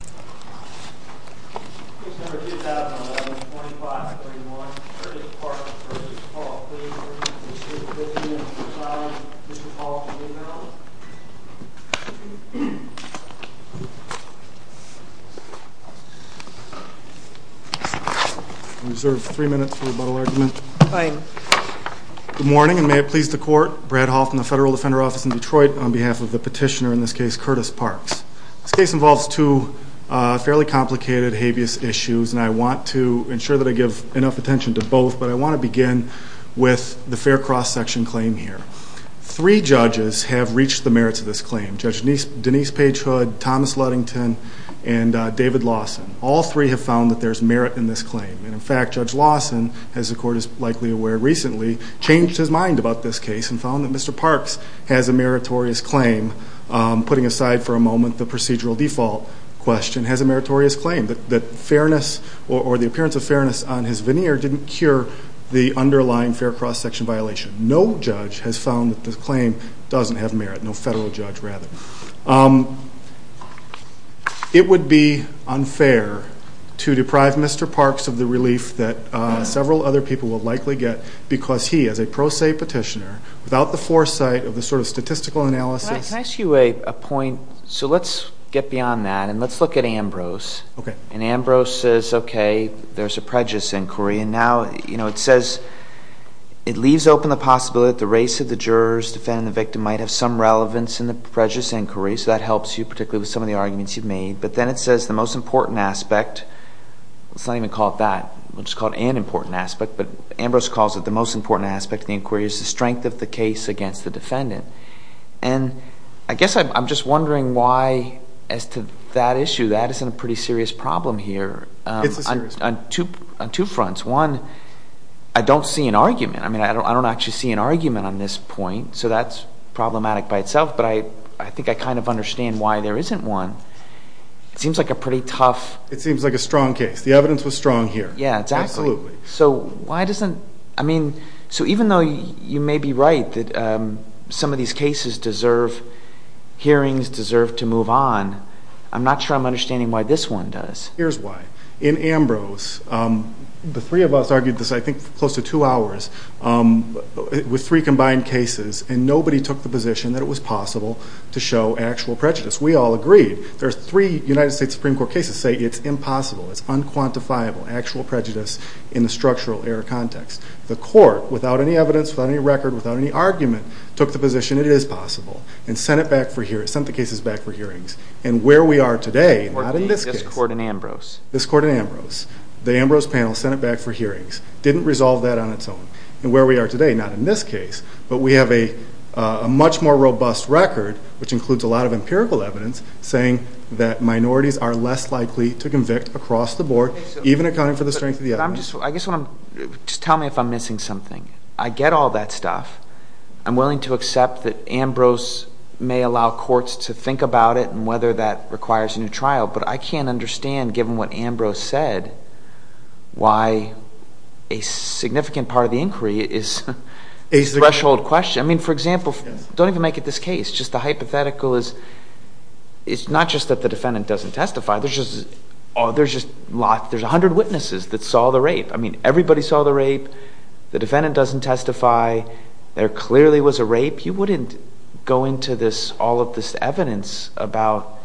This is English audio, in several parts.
Good morning and may it please the court, Brad Hoffman, the Federal Defender Office in Detroit, on behalf of the petitioner, in this case, Curtis Parks. This case involves two fairly complicated habeas issues and I want to ensure that I give enough attention to both but I want to begin with the fair cross section claim here. Three judges have reached the merits of this claim, Judge Denise Page Hood, Thomas Ludington and David Lawson. All three have found that there is merit in this claim and in fact, Judge Lawson, as the court is likely aware recently, changed his mind about this case and found that Mr. Parks has a meritorious claim, putting aside for a moment the procedural default question, has a meritorious claim that fairness or the appearance of fairness on his veneer didn't cure the underlying fair cross section violation. No judge has found that this claim doesn't have merit, no federal judge rather. It would be unfair to deprive Mr. Parks of the relief that several other people would likely get because he, as a pro se petitioner, without the foresight of the sort of statistical analysis. Can I ask you a point? So let's get beyond that and let's look at Ambrose. And Ambrose says, okay, there's a prejudice inquiry and now, you know, it says, it leaves open the possibility that the race of the jurors defending the victim might have some relevance in the prejudice inquiry, so that helps you particularly with some of the arguments you've made. But then it says the most important aspect, let's not even call it that, we'll just call it an important aspect, but Ambrose calls it the most important aspect of the inquiry is the strength of the case against the defendant. And I guess I'm just wondering why, as to that issue, that isn't a pretty serious problem here. It's a serious problem. On two fronts. One, I don't see an argument. I mean, I don't actually see an argument on this point, so that's problematic by itself, but I think I kind of understand why there isn't one. It seems like a pretty tough. It seems like a strong case. The evidence was strong here. Yeah, exactly. Absolutely. So, why doesn't, I mean, so even though you may be right that some of these cases deserve hearings, deserve to move on, I'm not sure I'm understanding why this one does. Here's why. In Ambrose, the three of us argued this, I think, for close to two hours, with three combined cases, and nobody took the position that it was possible to show actual prejudice. We all agreed. There's three United States Supreme Court cases say it's impossible, it's unquantifiable, actual prejudice in the structural error context. The court, without any evidence, without any record, without any argument, took the position it is possible, and sent it back for hearings, sent the cases back for hearings. And where we are today, not in this case, this court in Ambrose, the Ambrose panel sent it back for hearings, didn't resolve that on its own. And where we are today, not in this case, but we have a much more robust record, which includes a lot of empirical evidence, saying that minorities are less likely to convict across the board, even accounting for the strength of the evidence. I guess what I'm, just tell me if I'm missing something. I get all that stuff. I'm willing to accept that Ambrose may allow courts to think about it, and whether that requires a new trial, but I can't understand, given what Ambrose said, why a significant part of the inquiry is a threshold question. I mean, for example, don't even make it this case. Just the hypothetical is, it's not just that the defendant doesn't testify. There's just a hundred witnesses that saw the rape. I mean, everybody saw the rape. The defendant doesn't testify. There clearly was a rape. You wouldn't go into all of this evidence about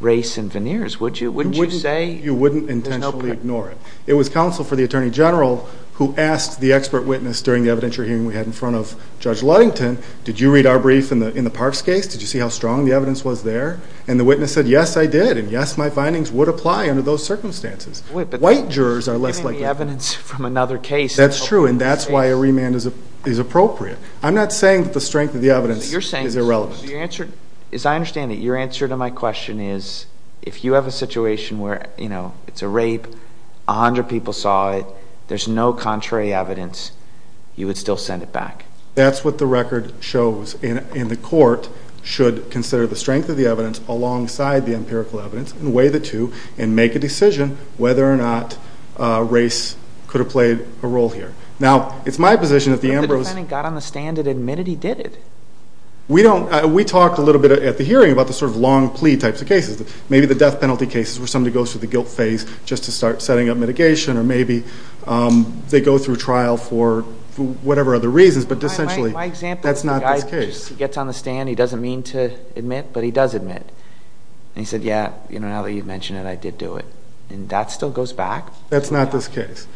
race and veneers, would you? Wouldn't you say? You wouldn't intentionally ignore it. It was counsel for the Attorney General who asked the expert witness during the evidentiary hearing we had in front of Judge Ludington, did you read our brief in the Parks case? Did you see how strong the evidence was there? And the witness said, yes, I did, and yes, my findings would apply under those circumstances. White jurors are less likely. Wait, but giving the evidence from another case. That's true, and that's why a remand is appropriate. I'm not saying that the strength of the evidence is irrelevant. As I understand it, your answer to my question is, if you have a situation where, you know, it's a rape, a hundred people saw it, there's no contrary evidence, you would still send it back. That's what the record shows, and the court should consider the strength of the evidence alongside the empirical evidence, and weigh the two, and make a decision whether or not race could have played a role here. Now, it's my position that the Ambrose. But the defendant got on the stand and admitted he did it. We don't, we talked a little bit at the hearing about the sort of long plea types of cases. Maybe the death penalty cases where somebody goes through the guilt phase just to start setting up mitigation, or maybe they go through trial for whatever other reasons. My example is the guy gets on the stand, he doesn't mean to admit, but he does admit. And he said, yeah, you know, now that you've mentioned it, I did do it. And that still goes back? That's not this case.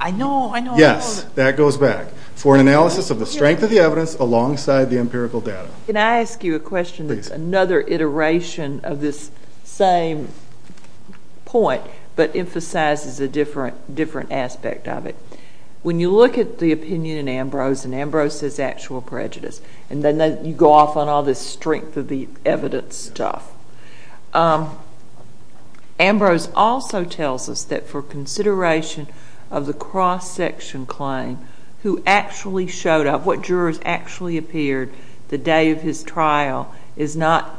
I know, I know. Yes, that goes back. For an analysis of the strength of the evidence alongside the empirical data. Can I ask you a question that's another iteration of this same point, but emphasizes a different aspect of it? When you look at the opinion in Ambrose, and Ambrose says actual prejudice, and then you go off on all this strength of the evidence stuff, Ambrose also tells us that for consideration of the cross-section claim, who actually showed up, what jurors actually appeared the day of his trial is not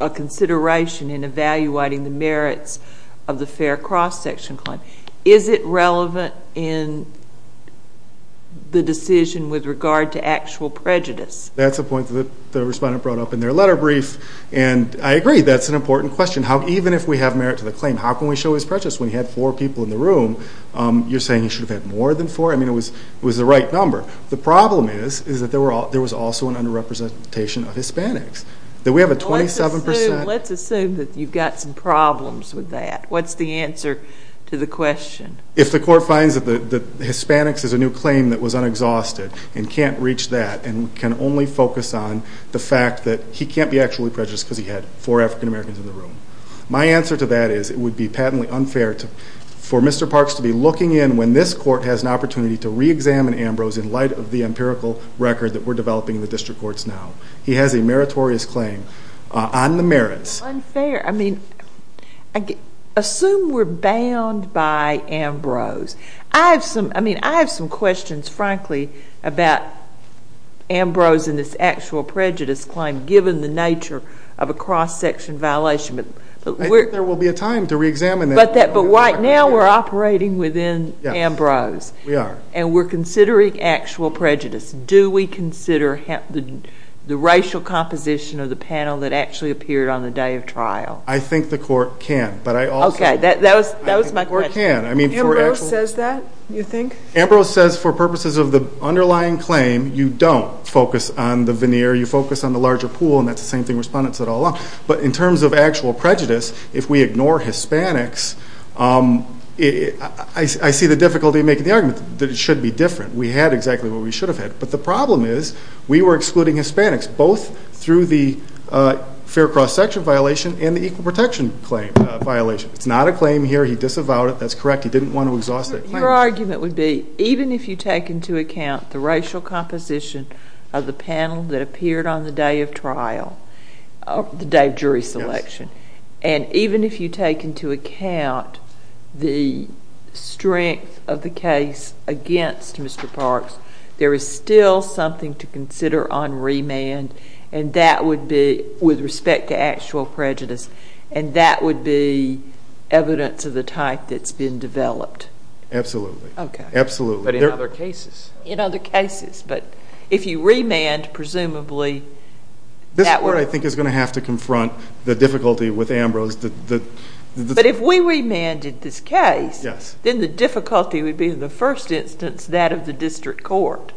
a consideration in evaluating the merits of the fair cross-section claim. Is it relevant in the decision with regard to actual prejudice? That's a point that the respondent brought up in their letter brief, and I agree, that's an important question. How, even if we have merit to the claim, how can we show his prejudice when he had four people in the room? You're saying he should have had more than four? I mean, it was the right number. The problem is, is that there was also an under-representation of Hispanics, that we have a 27%... Let's assume that you've got some problems with that. What's the answer to the question? If the court finds that Hispanics is a new claim that was unexhausted and can't reach that and can only focus on the fact that he can't be actually prejudiced because he had four African-Americans in the room, my answer to that is it would be patently unfair for Mr. Parks to be looking in when this court has an opportunity to re-examine Ambrose in light of the empirical record that we're developing in the district courts now. He has a meritorious claim on the merits. Unfair. Unfair. I mean, assume we're bound by Ambrose. I have some questions, frankly, about Ambrose and this actual prejudice claim, given the nature of a cross-section violation. I think there will be a time to re-examine that. But right now, we're operating within Ambrose, and we're considering actual prejudice. Do we consider the racial composition of the panel that actually appeared on the day of trial? I think the court can. But I also... Okay. That was my question. I think the court can. I mean, for actual... Ambrose says that, you think? Ambrose says for purposes of the underlying claim, you don't focus on the veneer. You focus on the larger pool, and that's the same thing respondents said all along. But in terms of actual prejudice, if we ignore Hispanics, I see the difficulty in making the argument that it should be different. We had exactly what we should have had. But the problem is, we were excluding Hispanics, both through the fair cross-section violation and the equal protection claim violation. It's not a claim here. He disavowed it. That's correct. He didn't want to exhaust that claim. Your argument would be, even if you take into account the racial composition of the panel that appeared on the day of trial, the day of jury selection, and even if you take into account the strength of the case against Mr. Parks, there is still something to consider on remand, and that would be, with respect to actual prejudice, and that would be evidence of the type that's been developed. Absolutely. Okay. Absolutely. But in other cases. In other cases. But if you remand, presumably... This court, I think, is going to have to confront the difficulty with Ambrose that... Yes. But if we remanded this case, then the difficulty would be, in the first instance, that of the district court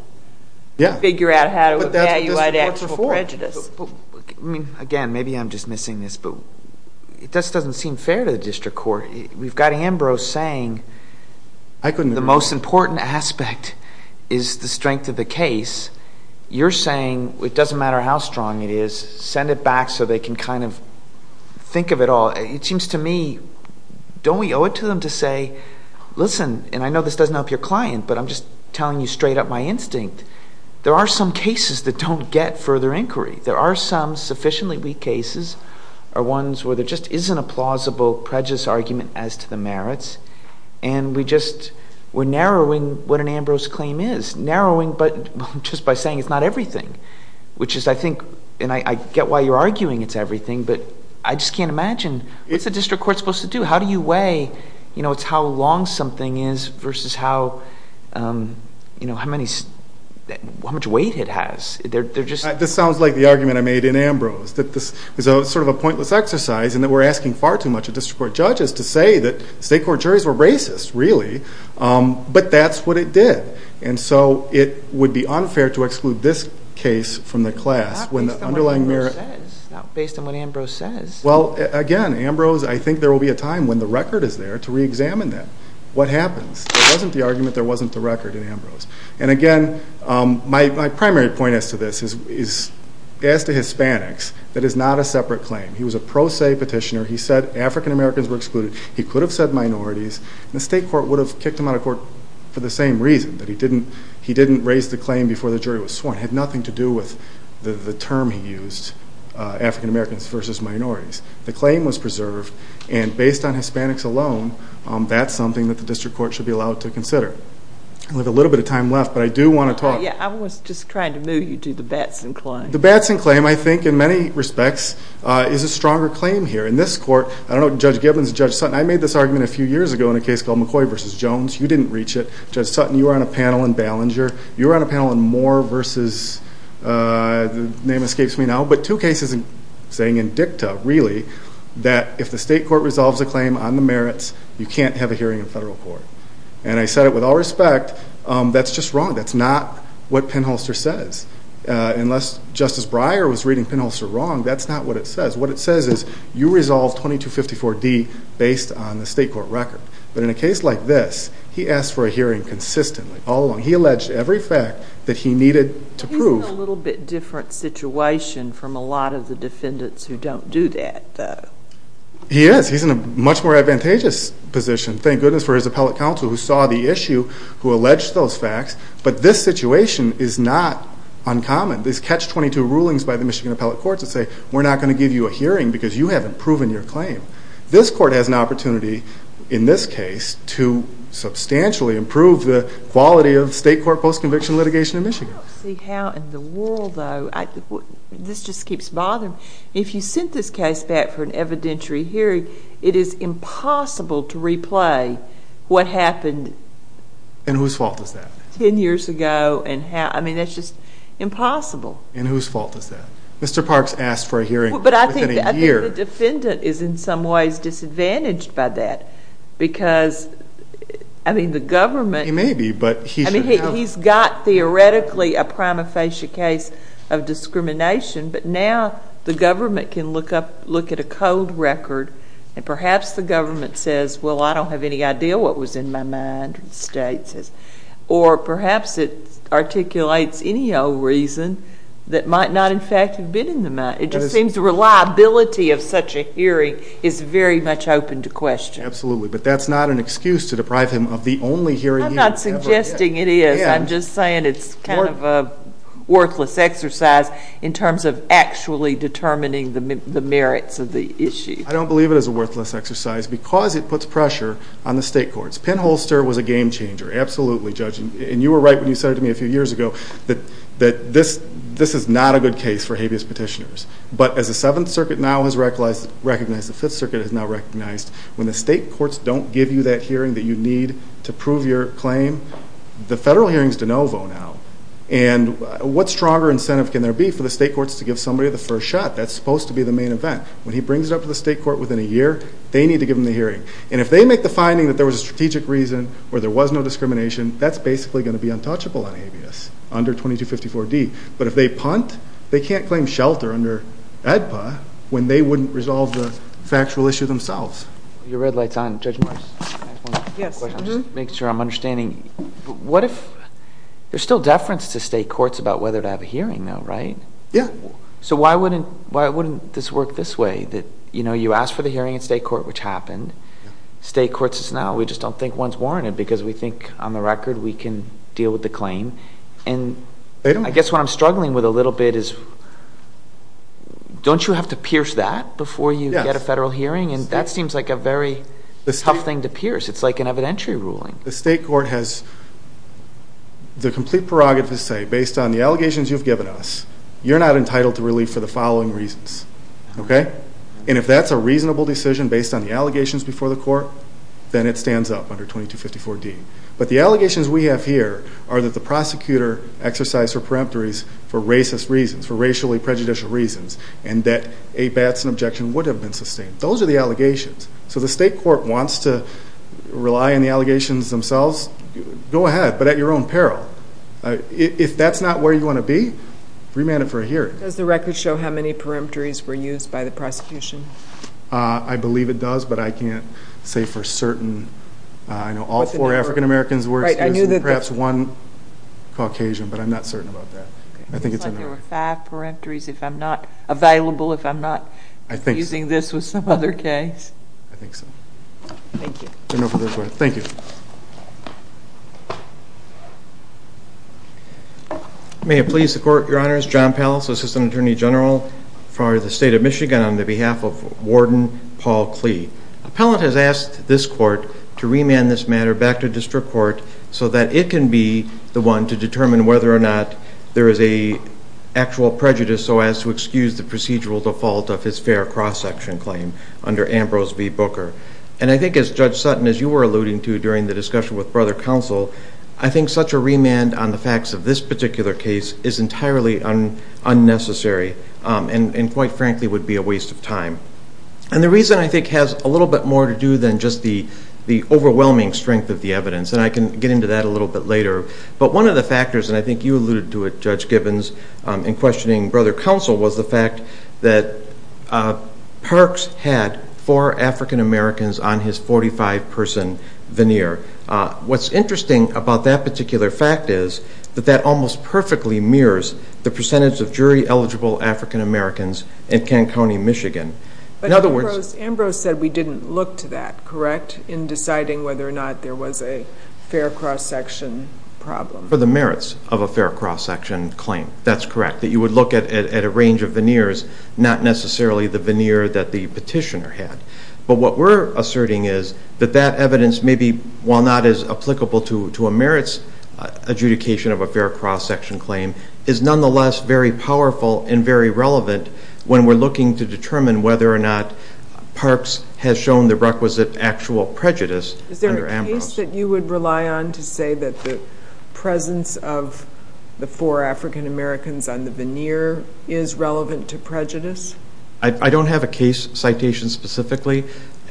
to figure out how to evaluate actual prejudice. But that's what district courts are for. I mean, again, maybe I'm just missing this, but it just doesn't seem fair to the district court. We've got Ambrose saying... I couldn't agree more.... the most important aspect is the strength of the case. You're saying, it doesn't matter how strong it is, send it back so they can kind of think of it all. It seems to me, don't we owe it to them to say, listen, and I know this doesn't help your client, but I'm just telling you straight up my instinct, there are some cases that don't get further inquiry. There are some sufficiently weak cases, or ones where there just isn't a plausible prejudice argument as to the merits, and we're narrowing what an Ambrose claim is. Narrowing just by saying it's not everything, which is, I think, and I get why you're arguing it's everything, but I just can't imagine, what's a district court supposed to do? How do you weigh, you know, it's how long something is versus how much weight it has? This sounds like the argument I made in Ambrose, that this is sort of a pointless exercise and that we're asking far too much of district court judges to say that state court juries were racist, really, but that's what it did, and so it would be unfair to exclude this case from the class, when the underlying merit... Not based on what Ambrose says. Well, again, Ambrose, I think there will be a time when the record is there to re-examine that. What happens? There wasn't the argument, there wasn't the record in Ambrose, and again, my primary point as to this is, as to Hispanics, that is not a separate claim. He was a pro se petitioner. He said African Americans were excluded. He could have said minorities, and the state court would have kicked him out of court for the same reason. That he didn't raise the claim before the jury was sworn. It had nothing to do with the term he used, African Americans versus minorities. The claim was preserved, and based on Hispanics alone, that's something that the district court should be allowed to consider. We have a little bit of time left, but I do want to talk... Yeah, I was just trying to move you to the Batson claim. The Batson claim, I think, in many respects, is a stronger claim here. In this court, I don't know if Judge Gibbons, Judge Sutton, I made this argument a few years ago in a case called McCoy versus Jones. You didn't reach it. Judge Sutton, you were on a panel in Ballinger, you were on a panel in Moore versus, the name escapes me now, but two cases saying in dicta, really, that if the state court resolves a claim on the merits, you can't have a hearing in federal court. And I said it with all respect, that's just wrong. That's not what Penholster says. Unless Justice Breyer was reading Penholster wrong, that's not what it says. What it says is, you resolve 2254D based on the state court record. But in a case like this, he asked for a hearing consistently, all along. He alleged every fact that he needed to prove. He's in a little bit different situation from a lot of the defendants who don't do that, though. He is. He's in a much more advantageous position, thank goodness, for his appellate counsel who saw the issue, who alleged those facts. But this situation is not uncommon. These catch 22 rulings by the Michigan appellate courts would say, we're not going to give you a hearing because you haven't proven your claim. This court has an opportunity, in this case, to substantially improve the quality of state court post-conviction litigation in Michigan. I don't see how in the world, though, this just keeps bothering me. If you sent this case back for an evidentiary hearing, it is impossible to replay what happened 10 years ago. And whose fault is that? I mean, that's just impossible. And whose fault is that? Mr. Parks asked for a hearing within a year. I think the defendant is in some ways disadvantaged by that because, I mean, the government... He may be, but he's... I mean, he's got theoretically a prima facie case of discrimination, but now the government can look up, look at a code record, and perhaps the government says, well, I don't have any idea what was in my mind, or the state says, or perhaps it articulates any old reason that might not in fact have been in the mind. It just seems the reliability of such a hearing is very much open to question. Absolutely, but that's not an excuse to deprive him of the only hearing he ever... I'm not suggesting it is. I'm just saying it's kind of a worthless exercise in terms of actually determining the merits of the issue. I don't believe it is a worthless exercise because it puts pressure on the state courts. Penn Holster was a game changer, absolutely, Judge. And you were right when you said to me a few years ago that this is not a good case for But as the Seventh Circuit now has recognized, the Fifth Circuit has now recognized, when the state courts don't give you that hearing that you need to prove your claim, the federal hearing is de novo now. And what stronger incentive can there be for the state courts to give somebody the first shot? That's supposed to be the main event. When he brings it up to the state court within a year, they need to give him the hearing. And if they make the finding that there was a strategic reason or there was no discrimination, that's basically going to be untouchable on habeas under 2254D. But if they punt, they can't claim shelter under AEDPA when they wouldn't resolve the factual issue themselves. Your red light's on. Judge Morris. Yes. I'm just making sure I'm understanding. What if there's still deference to state courts about whether to have a hearing, though, right? Yeah. So why wouldn't this work this way, that, you know, you ask for the hearing in state court, which happened. State courts now, we just don't think one's warranted because we think, on the record, we can deal with the claim. And I guess what I'm struggling with a little bit is, don't you have to pierce that before you get a federal hearing? And that seems like a very tough thing to pierce. It's like an evidentiary ruling. The state court has the complete prerogative to say, based on the allegations you've given us, you're not entitled to relief for the following reasons, okay? And if that's a reasonable decision based on the allegations before the court, then it stands up under 2254D. But the allegations we have here are that the prosecutor exercised her peremptories for racist reasons, for racially prejudicial reasons, and that a Batson objection would have been sustained. Those are the allegations. So the state court wants to rely on the allegations themselves, go ahead, but at your own peril. If that's not where you want to be, remand it for a hearing. Does the record show how many peremptories were used by the prosecution? I believe it does, but I can't say for certain. I know all four African Americans were excused and perhaps one Caucasian, but I'm not certain about that. I think it's unknown. It seems like there were five peremptories, if I'm not available, if I'm not confusing this with some other case. I think so. Thank you. There's no further questions. Thank you. May it please the court, Your Honors, John Pallis, Assistant Attorney General for the Warden Paul Klee. Appellant has asked this court to remand this matter back to district court so that it can be the one to determine whether or not there is an actual prejudice so as to excuse the procedural default of his fair cross-section claim under Ambrose v. Booker. And I think as Judge Sutton, as you were alluding to during the discussion with Brother Counsel, I think such a remand on the facts of this particular case is entirely unnecessary and quite frankly would be a waste of time. And the reason I think has a little bit more to do than just the overwhelming strength of the evidence, and I can get into that a little bit later, but one of the factors, and I think you alluded to it, Judge Gibbons, in questioning Brother Counsel was the fact that Parks had four African Americans on his 45-person veneer. What's interesting about that particular fact is that that almost perfectly mirrors the evidence in Kent County, Michigan. In other words... But Ambrose said we didn't look to that, correct? In deciding whether or not there was a fair cross-section problem. For the merits of a fair cross-section claim, that's correct. You would look at a range of veneers, not necessarily the veneer that the petitioner had. But what we're asserting is that that evidence may be, while not as applicable to a merits adjudication of a fair cross-section claim, is nonetheless very powerful and very relevant when we're looking to determine whether or not Parks has shown the requisite actual prejudice under Ambrose. Is there a case that you would rely on to say that the presence of the four African Americans on the veneer is relevant to prejudice? I don't have a case citation specifically,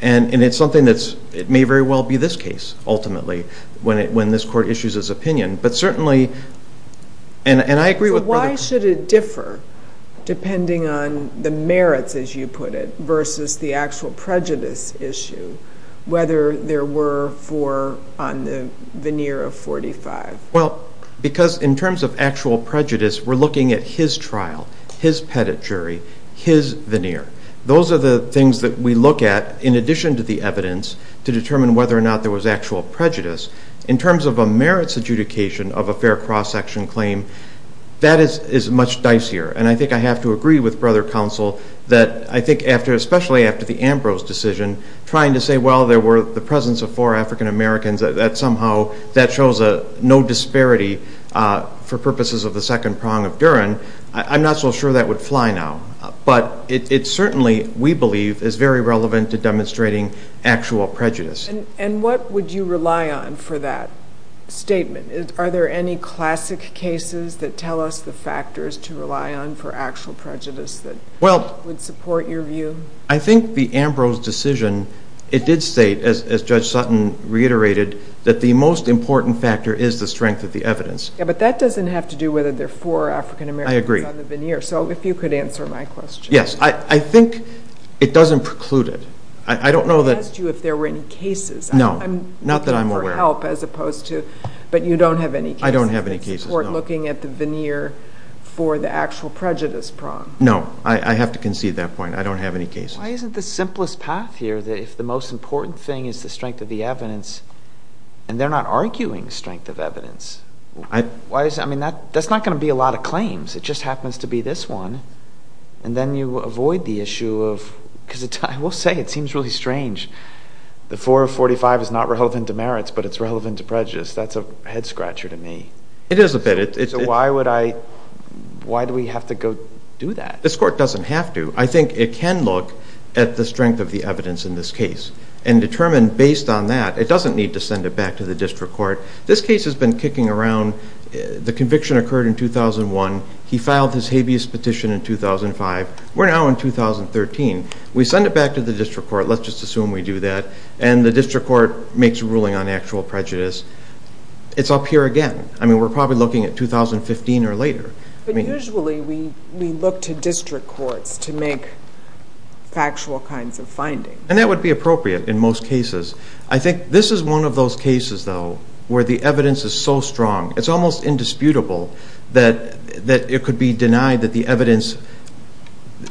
and it's something that may very well be this opinion. But certainly... And I agree with... So why should it differ, depending on the merits, as you put it, versus the actual prejudice issue, whether there were four on the veneer of 45? Well, because in terms of actual prejudice, we're looking at his trial, his petit jury, his veneer. Those are the things that we look at, in addition to the evidence, to determine whether or not there was actual prejudice. In terms of a merits adjudication of a fair cross-section claim, that is much dicier. And I think I have to agree with Brother Counsel that I think after, especially after the Ambrose decision, trying to say, well, there were the presence of four African Americans, that somehow, that shows no disparity for purposes of the second prong of Duren, I'm not so sure that would fly now. But it certainly, we believe, is very relevant to demonstrating actual prejudice. And what would you rely on for that statement? Are there any classic cases that tell us the factors to rely on for actual prejudice that would support your view? I think the Ambrose decision, it did state, as Judge Sutton reiterated, that the most important factor is the strength of the evidence. But that doesn't have to do whether there are four African Americans on the veneer. So if you could answer my question. Yes. I think it doesn't preclude it. I don't know that... You don't have any cases. No. Not that I'm aware of. For help as opposed to... But you don't have any cases. I don't have any cases, no. For looking at the veneer for the actual prejudice prong. No. I have to concede that point. I don't have any cases. Why isn't the simplest path here that if the most important thing is the strength of the evidence, and they're not arguing strength of evidence, why is, I mean, that's not going to be a lot of claims. It just happens to be this one. And then you avoid the issue of, because I will say, it seems really strange. The 4 of 45 is not relevant to merits, but it's relevant to prejudice. That's a head-scratcher to me. It is a bit. So why would I... Why do we have to go do that? This court doesn't have to. I think it can look at the strength of the evidence in this case and determine based on that, it doesn't need to send it back to the district court. This case has been kicking around. The conviction occurred in 2001. He filed his habeas petition in 2005. We're now in 2013. We send it back to the district court. Let's just assume we do that. And the district court makes a ruling on actual prejudice. It's up here again. I mean, we're probably looking at 2015 or later. But usually we look to district courts to make factual kinds of findings. And that would be appropriate in most cases. I think this is one of those cases, though, where the evidence is so strong, it's almost indisputable that it could be denied that the evidence,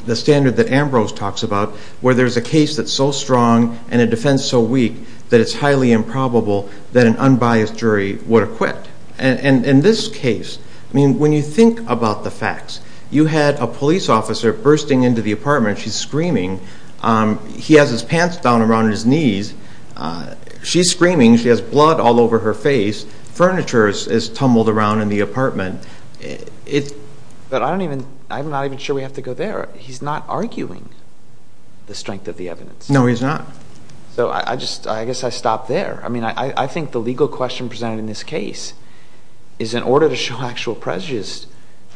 the standard that Ambrose talks about, where there's a case that's so strong and a defense so weak that it's highly improbable that an unbiased jury would acquit. In this case, I mean, when you think about the facts, you had a police officer bursting into the apartment. She's screaming. He has his pants down around his knees. She's screaming. She has blood all over her face. Furniture is tumbled around in the apartment. But I'm not even sure we have to go there. He's not arguing the strength of the evidence. No, he's not. So I just, I guess I stop there. I mean, I think the legal question presented in this case is in order to show actual prejudice,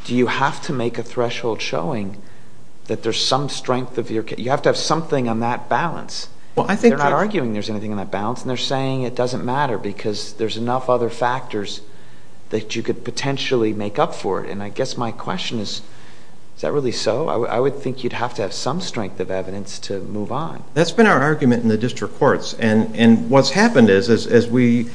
do you have to make a threshold showing that there's some strength of your case? You have to have something on that balance. Well, I think that- They're not arguing there's anything on that balance. And they're saying it doesn't matter because there's enough other factors that you could potentially make up for it. And I guess my question is, is that really so? I would think you'd have to have some strength of evidence to move on. That's been our argument in the district courts. And what's happened is as we,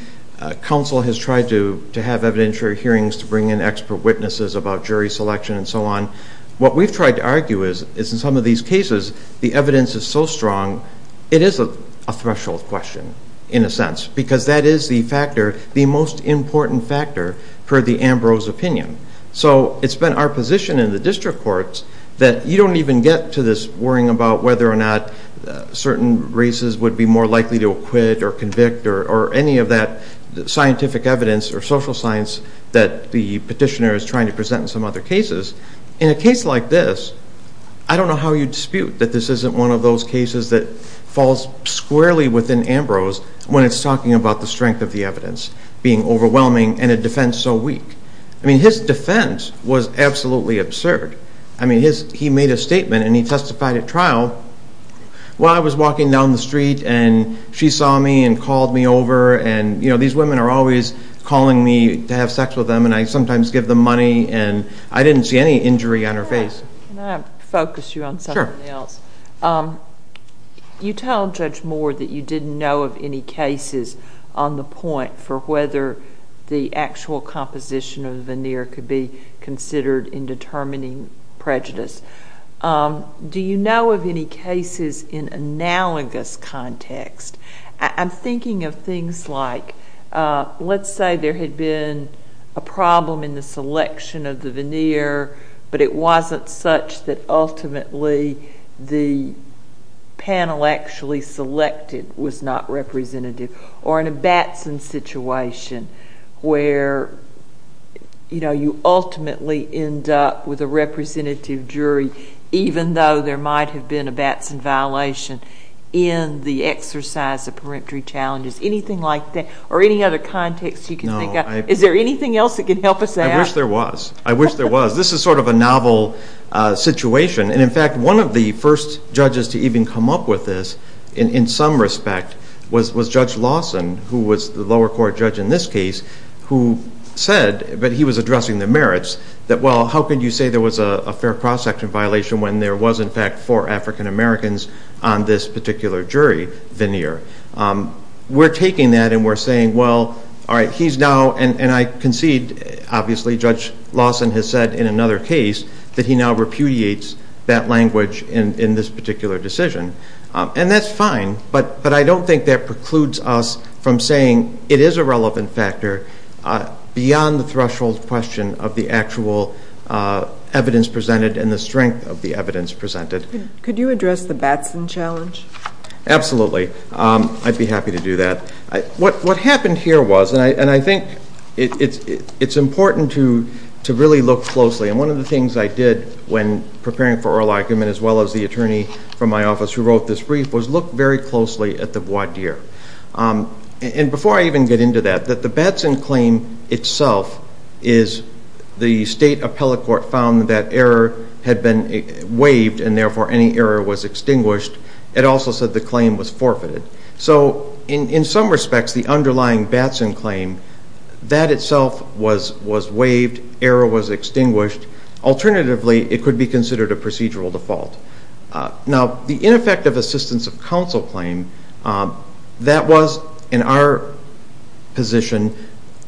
counsel has tried to have evidentiary hearings to bring in expert witnesses about jury selection and so on. What we've tried to argue is in some of these cases, the evidence is so strong, it is a threshold question in a sense. Because that is the factor, the most important factor per the Ambrose opinion. So it's been our position in the district courts that you don't even get to this worrying about whether or not certain races would be more likely to acquit or convict or any of that scientific evidence or social science that the petitioner is trying to present in some other cases. In a case like this, I don't know how you dispute that this isn't one of those cases that falls squarely within Ambrose when it's talking about the strength of the evidence being overwhelming and a defense so weak. His defense was absolutely absurd. He made a statement and he testified at trial while I was walking down the street and she saw me and called me over and these women are always calling me to have sex with them and I sometimes give them money and I didn't see any injury on her face. Can I focus you on something else? You tell Judge Moore that you didn't know of any cases on the point for whether the actual composition of the veneer could be considered in determining prejudice. Do you know of any cases in analogous context? I'm thinking of things like, let's say there had been a problem in the selection of the veneer but it wasn't such that ultimately the panel actually selected was not representative or in a Batson situation where you ultimately end up with a representative jury even though there might have been a Batson violation in the exercise of peremptory challenges. Anything like that? Or any other context you can think of? Is there anything else that can help us out? I wish there was. This is sort of a novel situation and in fact one of the first judges to even come up with this in some respect was Judge Lawson who was the lower court judge in this case who said that he was addressing the merits that well how could you say there was a fair cross section violation when there was in fact four African Americans on this particular jury veneer. We're taking that and we're saying well alright he's now and I concede obviously Judge Lawson has said in another case that he now repudiates that language in this particular decision and that's fine but I don't think that precludes us from saying it is a relevant factor beyond the threshold question of the actual evidence presented and the strength of the evidence presented. Could you address the Batson challenge? Absolutely. I'd be happy to do that. What happened here was and I think it's important to really look closely and one of the things I did when preparing for oral argument as well as the attorney from my office who wrote this brief was look very closely at the voir dire. And before I even get into that the Batson claim itself is the state appellate court found that error had been waived and therefore any error was extinguished. It also said the claim was forfeited. So in some respects the underlying Batson claim that itself was waived, error was extinguished. Alternatively it could be considered a procedural default. Now the ineffective assistance of counsel claim that was in our position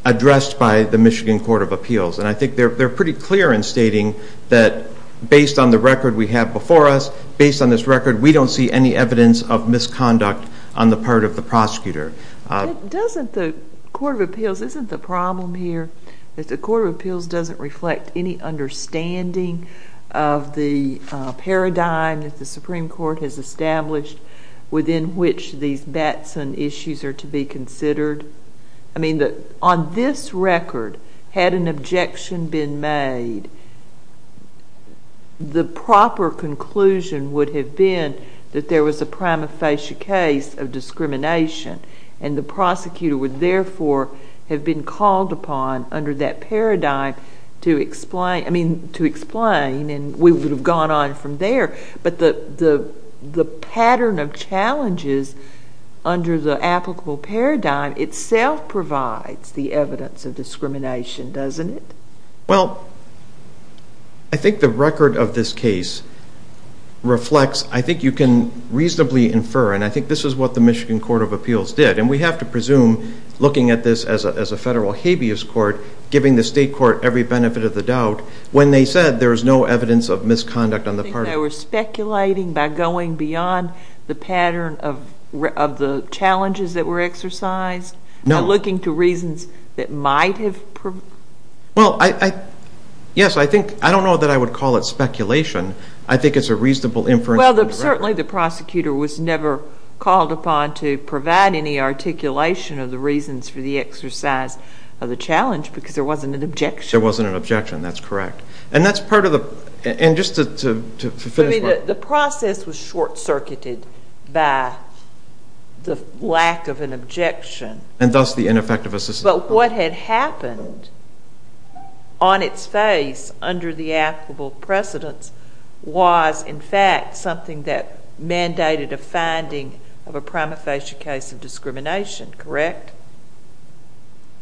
addressed by the Michigan Court of Appeals and I think they're pretty clear in stating that based on the record we have before us, based on this record we don't see any evidence of misconduct on the part of the prosecutor. Doesn't the Court of Appeals, isn't the problem here that the Court of Appeals doesn't reflect any understanding of the paradigm that the Supreme Court has established within which these Batson issues are to be considered? I mean on this record had an objection been made the proper conclusion would have been that there was a prima facie case of discrimination and the prosecutor would therefore have been called upon under that paradigm to explain, I mean to explain and we would have gone on from there but the pattern of challenges under the applicable paradigm itself provides the evidence of discrimination, doesn't it? Well I think the record of this case reflects, I think you can reasonably infer and I think this is what the Michigan Court of Appeals did and we have to presume looking at this as a federal habeas court giving the state court every benefit of the doubt when they said there was no evidence of misconduct on the part of the prosecutor. Do you think they were speculating by going beyond the pattern of the challenges that were exercised? No. By looking to reasons that might have? Well I, yes I think, I don't know that I would call it speculation, I think it's a reasonable inference. Well certainly the prosecutor was never called upon to provide any articulation of the reasons for the exercise of the challenge because there wasn't an objection. There wasn't an objection, that's correct. And that's part of the, and just to finish. The process was short circuited by the lack of an objection. And thus the ineffective assistance. But what had happened on its face under the applicable precedence was in fact something that mandated a finding of a prima facie case of discrimination, correct?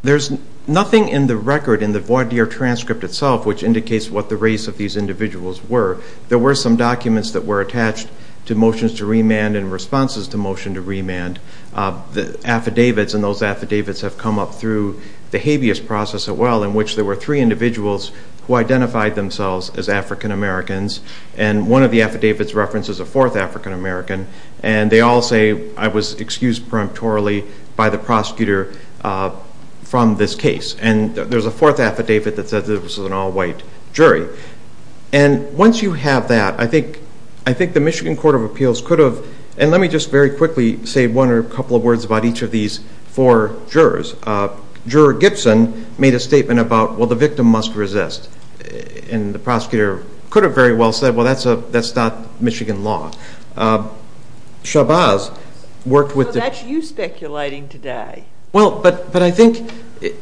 There's nothing in the record in the voir dire transcript itself which indicates what the race of these individuals were. There were some documents that were attached to motions to remand and responses to motion to remand. The affidavits and those affidavits have come up through the habeas process as well in which there were three individuals who identified themselves as African Americans and one of the affidavits references a fourth African American and they all say I was excused peremptorily by the prosecutor from this case. And there's a fourth affidavit that says this was an all white jury. And once you have that, I think the Michigan Court of Appeals could have, and let me just very quickly say one or a couple of words about each of these four jurors. Juror Gibson made a statement about well the victim must resist and the prosecutor could have very well said well that's not Michigan law. Shabazz worked with the- So that's you speculating today. Well but I think,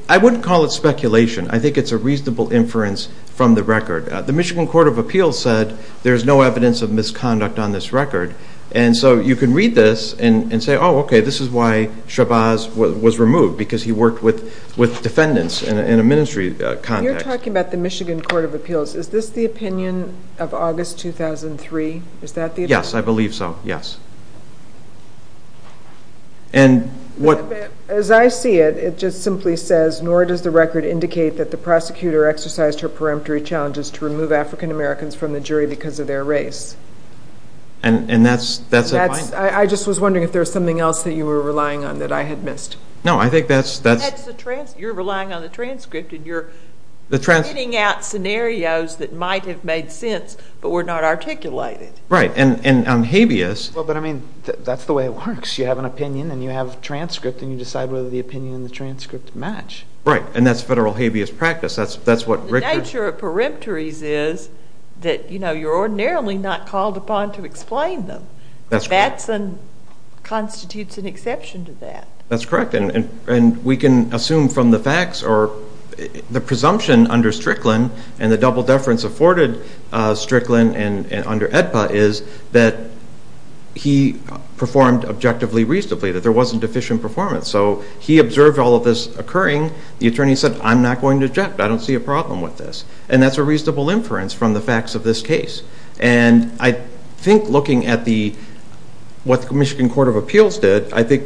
I wouldn't call it speculation. I think it's a reasonable inference from the record. The Michigan Court of Appeals said there's no evidence of misconduct on this record. And so you can read this and say oh okay, this is why Shabazz was removed because he worked with defendants in a ministry context. You're talking about the Michigan Court of Appeals. Is this the opinion of August 2003? Is that the opinion? Yes. I believe so. Yes. And what- As I see it, it just simply says nor does the record indicate that the prosecutor exercised her peremptory challenges to remove African Americans from the jury because of their race. And that's- That's- I just was wondering if there was something else that you were relying on that I had missed. No I think that's- That's the transcript. You're relying on the transcript and you're- The transcript- Fitting out scenarios that might have made sense but were not articulated. Right. And on habeas- Well but I mean that's the way it works. You have an opinion and you have a transcript and you decide whether the opinion and the transcript match. Right. And that's federal habeas practice. That's what Richard- The nature of peremptories is that, you know, you're ordinarily not called upon to explain them. That's correct. That's and constitutes an exception to that. That's correct. And we can assume from the facts or the presumption under Strickland and the double deference afforded Strickland and under AEDPA is that he performed objectively reasonably, that there wasn't deficient performance. So he observed all of this occurring. The attorney said, I'm not going to object. I don't see a problem with this. And that's a reasonable inference from the facts of this case. And I think looking at the- what the Michigan Court of Appeals did, I think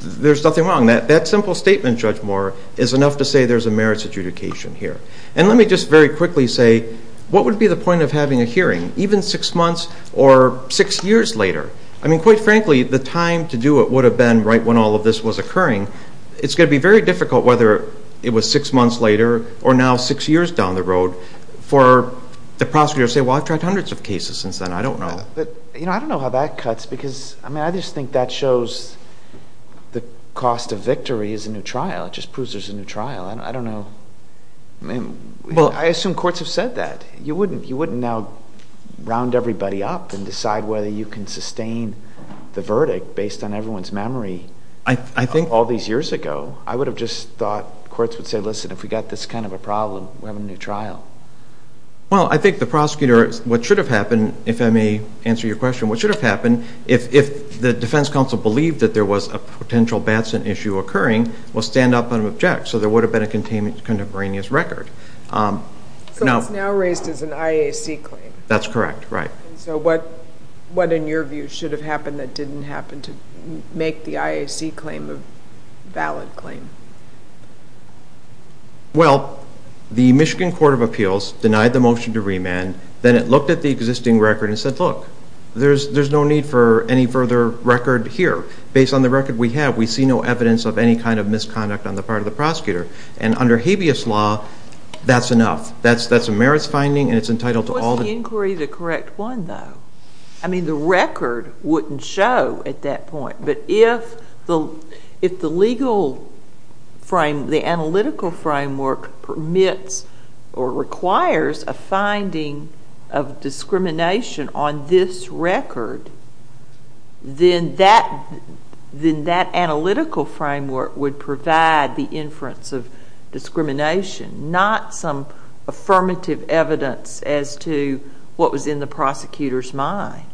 there's nothing wrong. That simple statement, Judge Moore, is enough to say there's a merits adjudication here. And let me just very quickly say, what would be the point of having a hearing even six months or six years later? I mean, quite frankly, the time to do it would have been right when all of this was occurring. It's going to be very difficult whether it was six months later or now six years down the road for the prosecutor to say, well, I've tried hundreds of cases since then. I don't know. But I don't know how that cuts, because I just think that shows the cost of victory is a new trial. It just proves there's a new trial. I don't know. I mean, I assume courts have said that. You wouldn't now round everybody up and decide whether you can sustain the verdict based on everyone's memory all these years ago. I would have just thought courts would say, listen, if we got this kind of a problem, we're having a new trial. Well, I think the prosecutor, what should have happened, if I may answer your question, what should have happened if the defense counsel believed that there was a potential Batson issue occurring, was stand up and object. So there would have been a contemporaneous record. So it's now raised as an IAC claim. That's correct. Right. And so what, in your view, should have happened that didn't happen to make the IAC claim a valid claim? Well, the Michigan Court of Appeals denied the motion to remand. Then it looked at the existing record and said, look, there's no need for any further record here. Based on the record we have, we see no evidence of any kind of misconduct on the part of the prosecutor. And under habeas law, that's enough. That's a merits finding, and it's entitled to all the- What's the inquiry, the correct one, though? I mean, the record wouldn't show at that point. But if the legal frame, the analytical framework permits or requires a finding of discrimination on this record, then that analytical framework would provide the inference of discrimination, not some affirmative evidence as to what was in the prosecutor's mind.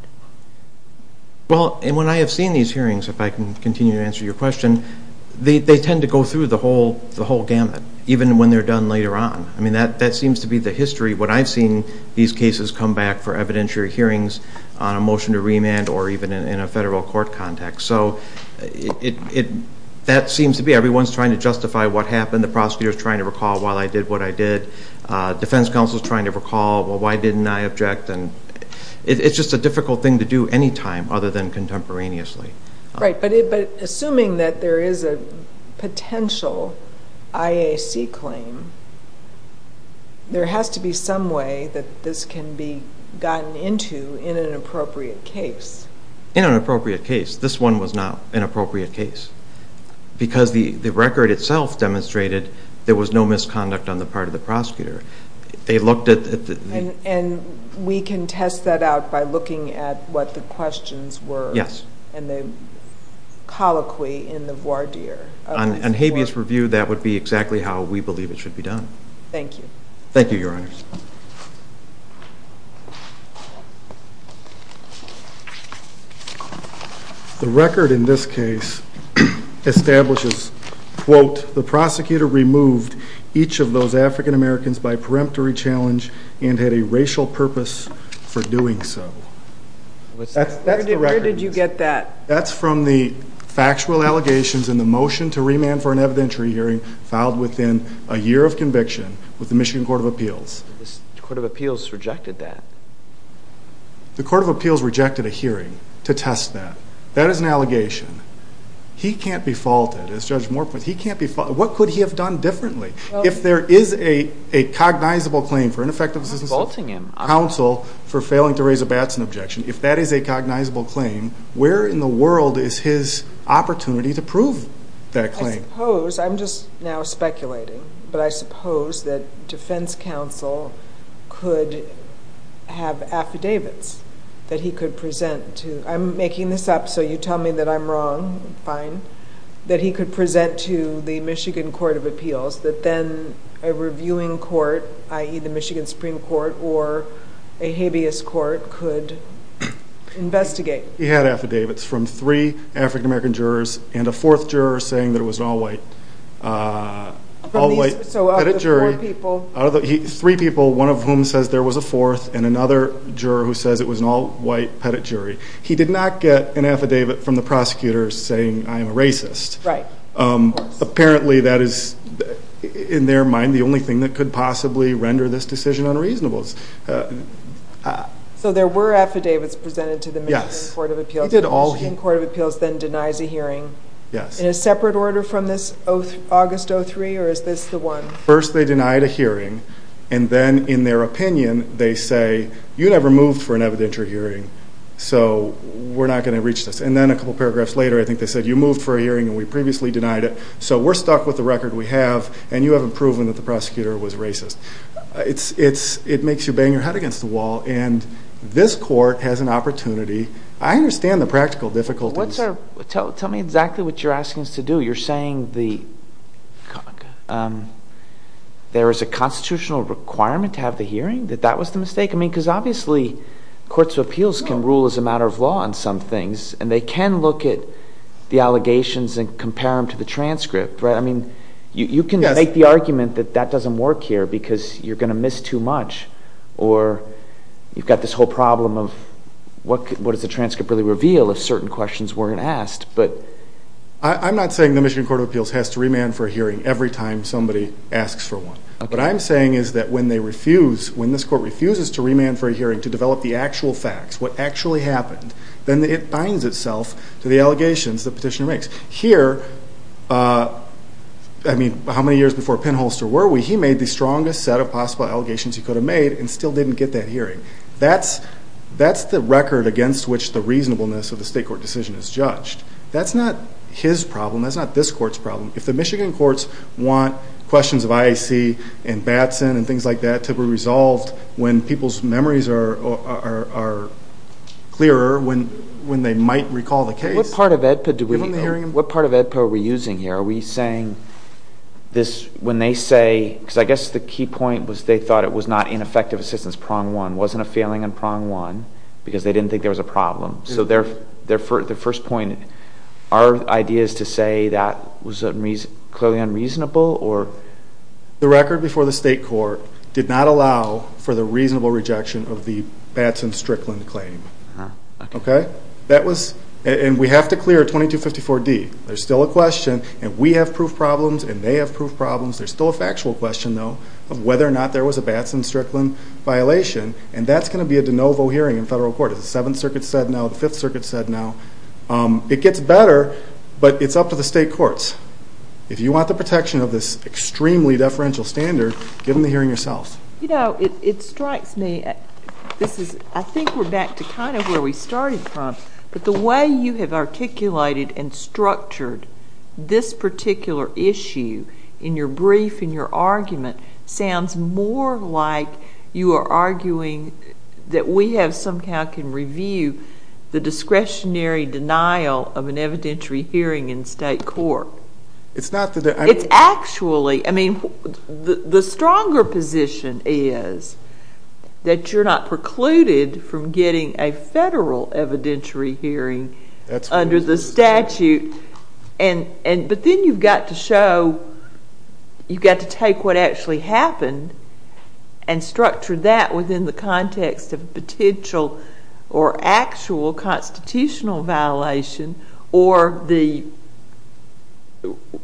Well, and when I have seen these hearings, if I can continue to answer your question, they tend to go through the whole gamut, even when they're done later on. I mean, that seems to be the history. What I've seen, these cases come back for evidentiary hearings on a motion to remand or even in a federal court context. So that seems to be, everyone's trying to justify what happened. The prosecutor's trying to recall, well, I did what I did. Defense counsel's trying to recall, well, why didn't I object? And it's just a difficult thing to do any time other than contemporaneously. Right. But assuming that there is a potential IAC claim, there has to be some way that this can be gotten into in an appropriate case. In an appropriate case. This one was not an appropriate case. Because the record itself demonstrated there was no misconduct on the part of the prosecutor. They looked at the- And we can test that out by looking at what the questions were. Yes. And the colloquy in the voir dire. On Habeas Review, that would be exactly how we believe it should be done. Thank you. Thank you, Your Honors. The record in this case establishes, quote, the prosecutor removed each of those African Americans by peremptory challenge and had a racial purpose for doing so. Where did you get that? That's from the factual allegations in the motion to remand for an evidentiary hearing filed within a year of conviction with the Michigan Court of Appeals. The Court of Appeals rejected that. The Court of Appeals rejected a hearing to test that. That is an allegation. He can't be faulted, as Judge Morpeth, he can't be faulted. What could he have done differently? If there is a cognizable claim for ineffective assistance of counsel for failing to raise a Batson objection, if that is a cognizable claim, where in the world is his opportunity to prove that claim? I suppose, I'm just now speculating, but I suppose that defense counsel could have affidavits that he could present to, I'm making this up so you tell me that I'm wrong, fine, that he could present to the Michigan Court of Appeals that then a reviewing court, i.e. the Michigan Supreme Court or a habeas court could investigate. He had affidavits from three African American jurors and a fourth juror saying that it was an all-white, all-white pettit jury. So out of the four people? Three people, one of whom says there was a fourth and another juror who says it was an all-white pettit jury. He did not get an affidavit from the prosecutor saying I'm a racist. Right. Apparently that is, in their mind, the only thing that could possibly render this decision unreasonable. So there were affidavits presented to the Michigan Court of Appeals. Yes. The Michigan Court of Appeals then denies a hearing. Yes. In a separate order from this August 03 or is this the one? First they denied a hearing and then in their opinion they say, you never moved for an evidentiary hearing. So we're not going to reach this. And then a couple paragraphs later I think they said, you moved for a hearing and we previously denied it. So we're stuck with the record we have and you haven't proven that the prosecutor was racist. It's, it makes you bang your head against the wall and this court has an opportunity. I understand the practical difficulties. What's our, tell me exactly what you're asking us to do. You're saying the, there is a constitutional requirement to have the hearing? That that was the mistake? I mean, because obviously courts of appeals can rule as a matter of law on some things and they can look at the allegations and compare them to the transcript, right? I mean, you can make the argument that that doesn't work here because you're going to miss too much or you've got this whole problem of what does the transcript really reveal if certain questions weren't asked. But. I'm not saying the Michigan Court of Appeals has to remand for a hearing every time somebody asks for one. Okay. What I'm saying is that when they refuse, when this court refuses to remand for a hearing to develop the actual facts, what actually happened, then it binds itself to the allegations the petitioner makes. Here, I mean, how many years before Pennholster were we, he made the strongest set of possible allegations he could have made and still didn't get that hearing. That's, that's the record against which the reasonableness of the state court decision is judged. That's not his problem. That's not this court's problem. If the Michigan courts want questions of IAC and Batson and things like that to be resolved when people's memories are clearer, when they might recall the case. What part of EDPA do we, what part of EDPA are we using here? Are we saying this, when they say, because I guess the key point was they thought it was not ineffective assistance, prong one, wasn't a failing in prong one, because they didn't think there was a problem. So their first point, our idea is to say that was clearly unreasonable or. The record before the state court did not allow for the reasonable rejection of the Batson Strickland claim, okay? That was, and we have to clear 2254D. There's still a question, and we have proof problems, and they have proof problems. There's still a factual question, though, of whether or not there was a Batson Strickland violation. And that's going to be a de novo hearing in federal court. As the 7th Circuit said now, the 5th Circuit said now. It gets better, but it's up to the state courts. If you want the protection of this extremely deferential standard, give them the hearing yourselves. You know, it strikes me, I think we're back to kind of where we started from, but the way you have articulated and structured this particular issue in your brief, in your argument, sounds more like you are arguing that we have somehow can review the discretionary denial of an evidentiary hearing in state court. It's actually, I mean, the stronger position is that you're not precluded from getting a federal evidentiary hearing under the statute, but then you've got to show, you've got to take what actually happened or actual constitutional violation or the,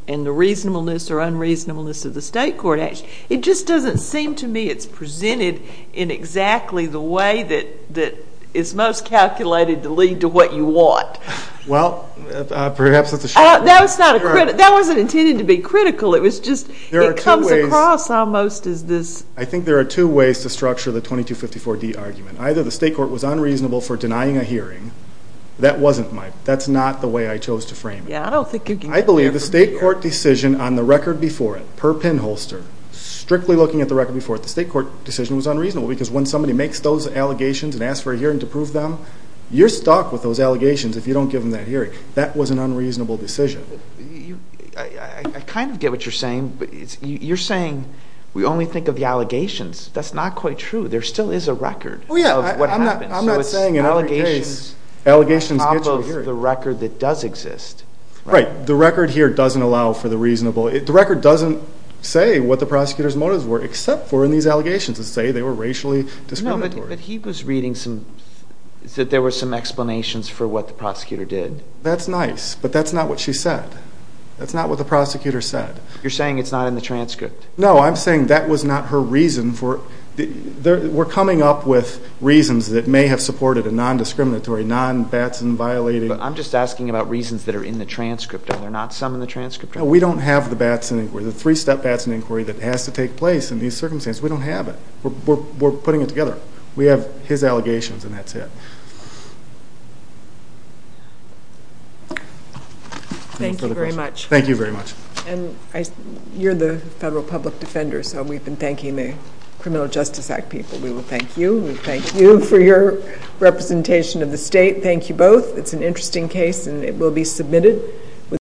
and the reasonableness or unreasonableness of the state court action. It just doesn't seem to me it's presented in exactly the way that is most calculated to lead to what you want. Well, perhaps that's a shame. That's not a, that wasn't intended to be critical. It was just, it comes across almost as this. I think there are two ways to structure the 2254D argument. Either the state court was unreasonable for denying a hearing. That wasn't my, that's not the way I chose to frame it. Yeah, I don't think you can... I believe the state court decision on the record before it, per pinholster, strictly looking at the record before it, the state court decision was unreasonable, because when somebody makes those allegations and asks for a hearing to prove them, you're stuck with those allegations if you don't give them that hearing. That was an unreasonable decision. You, I kind of get what you're saying, but you're saying we only think of the allegations. That's not quite true. There still is a record. Oh yeah, I'm not saying in every case, allegations get you a hearing. On top of the record that does exist. Right. The record here doesn't allow for the reasonable, the record doesn't say what the prosecutor's motives were, except for in these allegations that say they were racially discriminatory. No, but he was reading some, that there were some explanations for what the prosecutor did. That's nice, but that's not what she said. That's not what the prosecutor said. You're saying it's not in the transcript. No, I'm saying that was not her reason for, we're coming up with reasons that may have supported a non-discriminatory, non-Batson-violating. I'm just asking about reasons that are in the transcript. Are there not some in the transcript? No, we don't have the Batson inquiry, the three-step Batson inquiry that has to take place in these circumstances. We don't have it. We're putting it together. We have his allegations and that's it. Thank you very much. Thank you very much. And you're the federal public defender, so we've been thanking the Criminal Justice Act people. We will thank you. We thank you for your representation of the state. Thank you both. It's an interesting case and it will be submitted.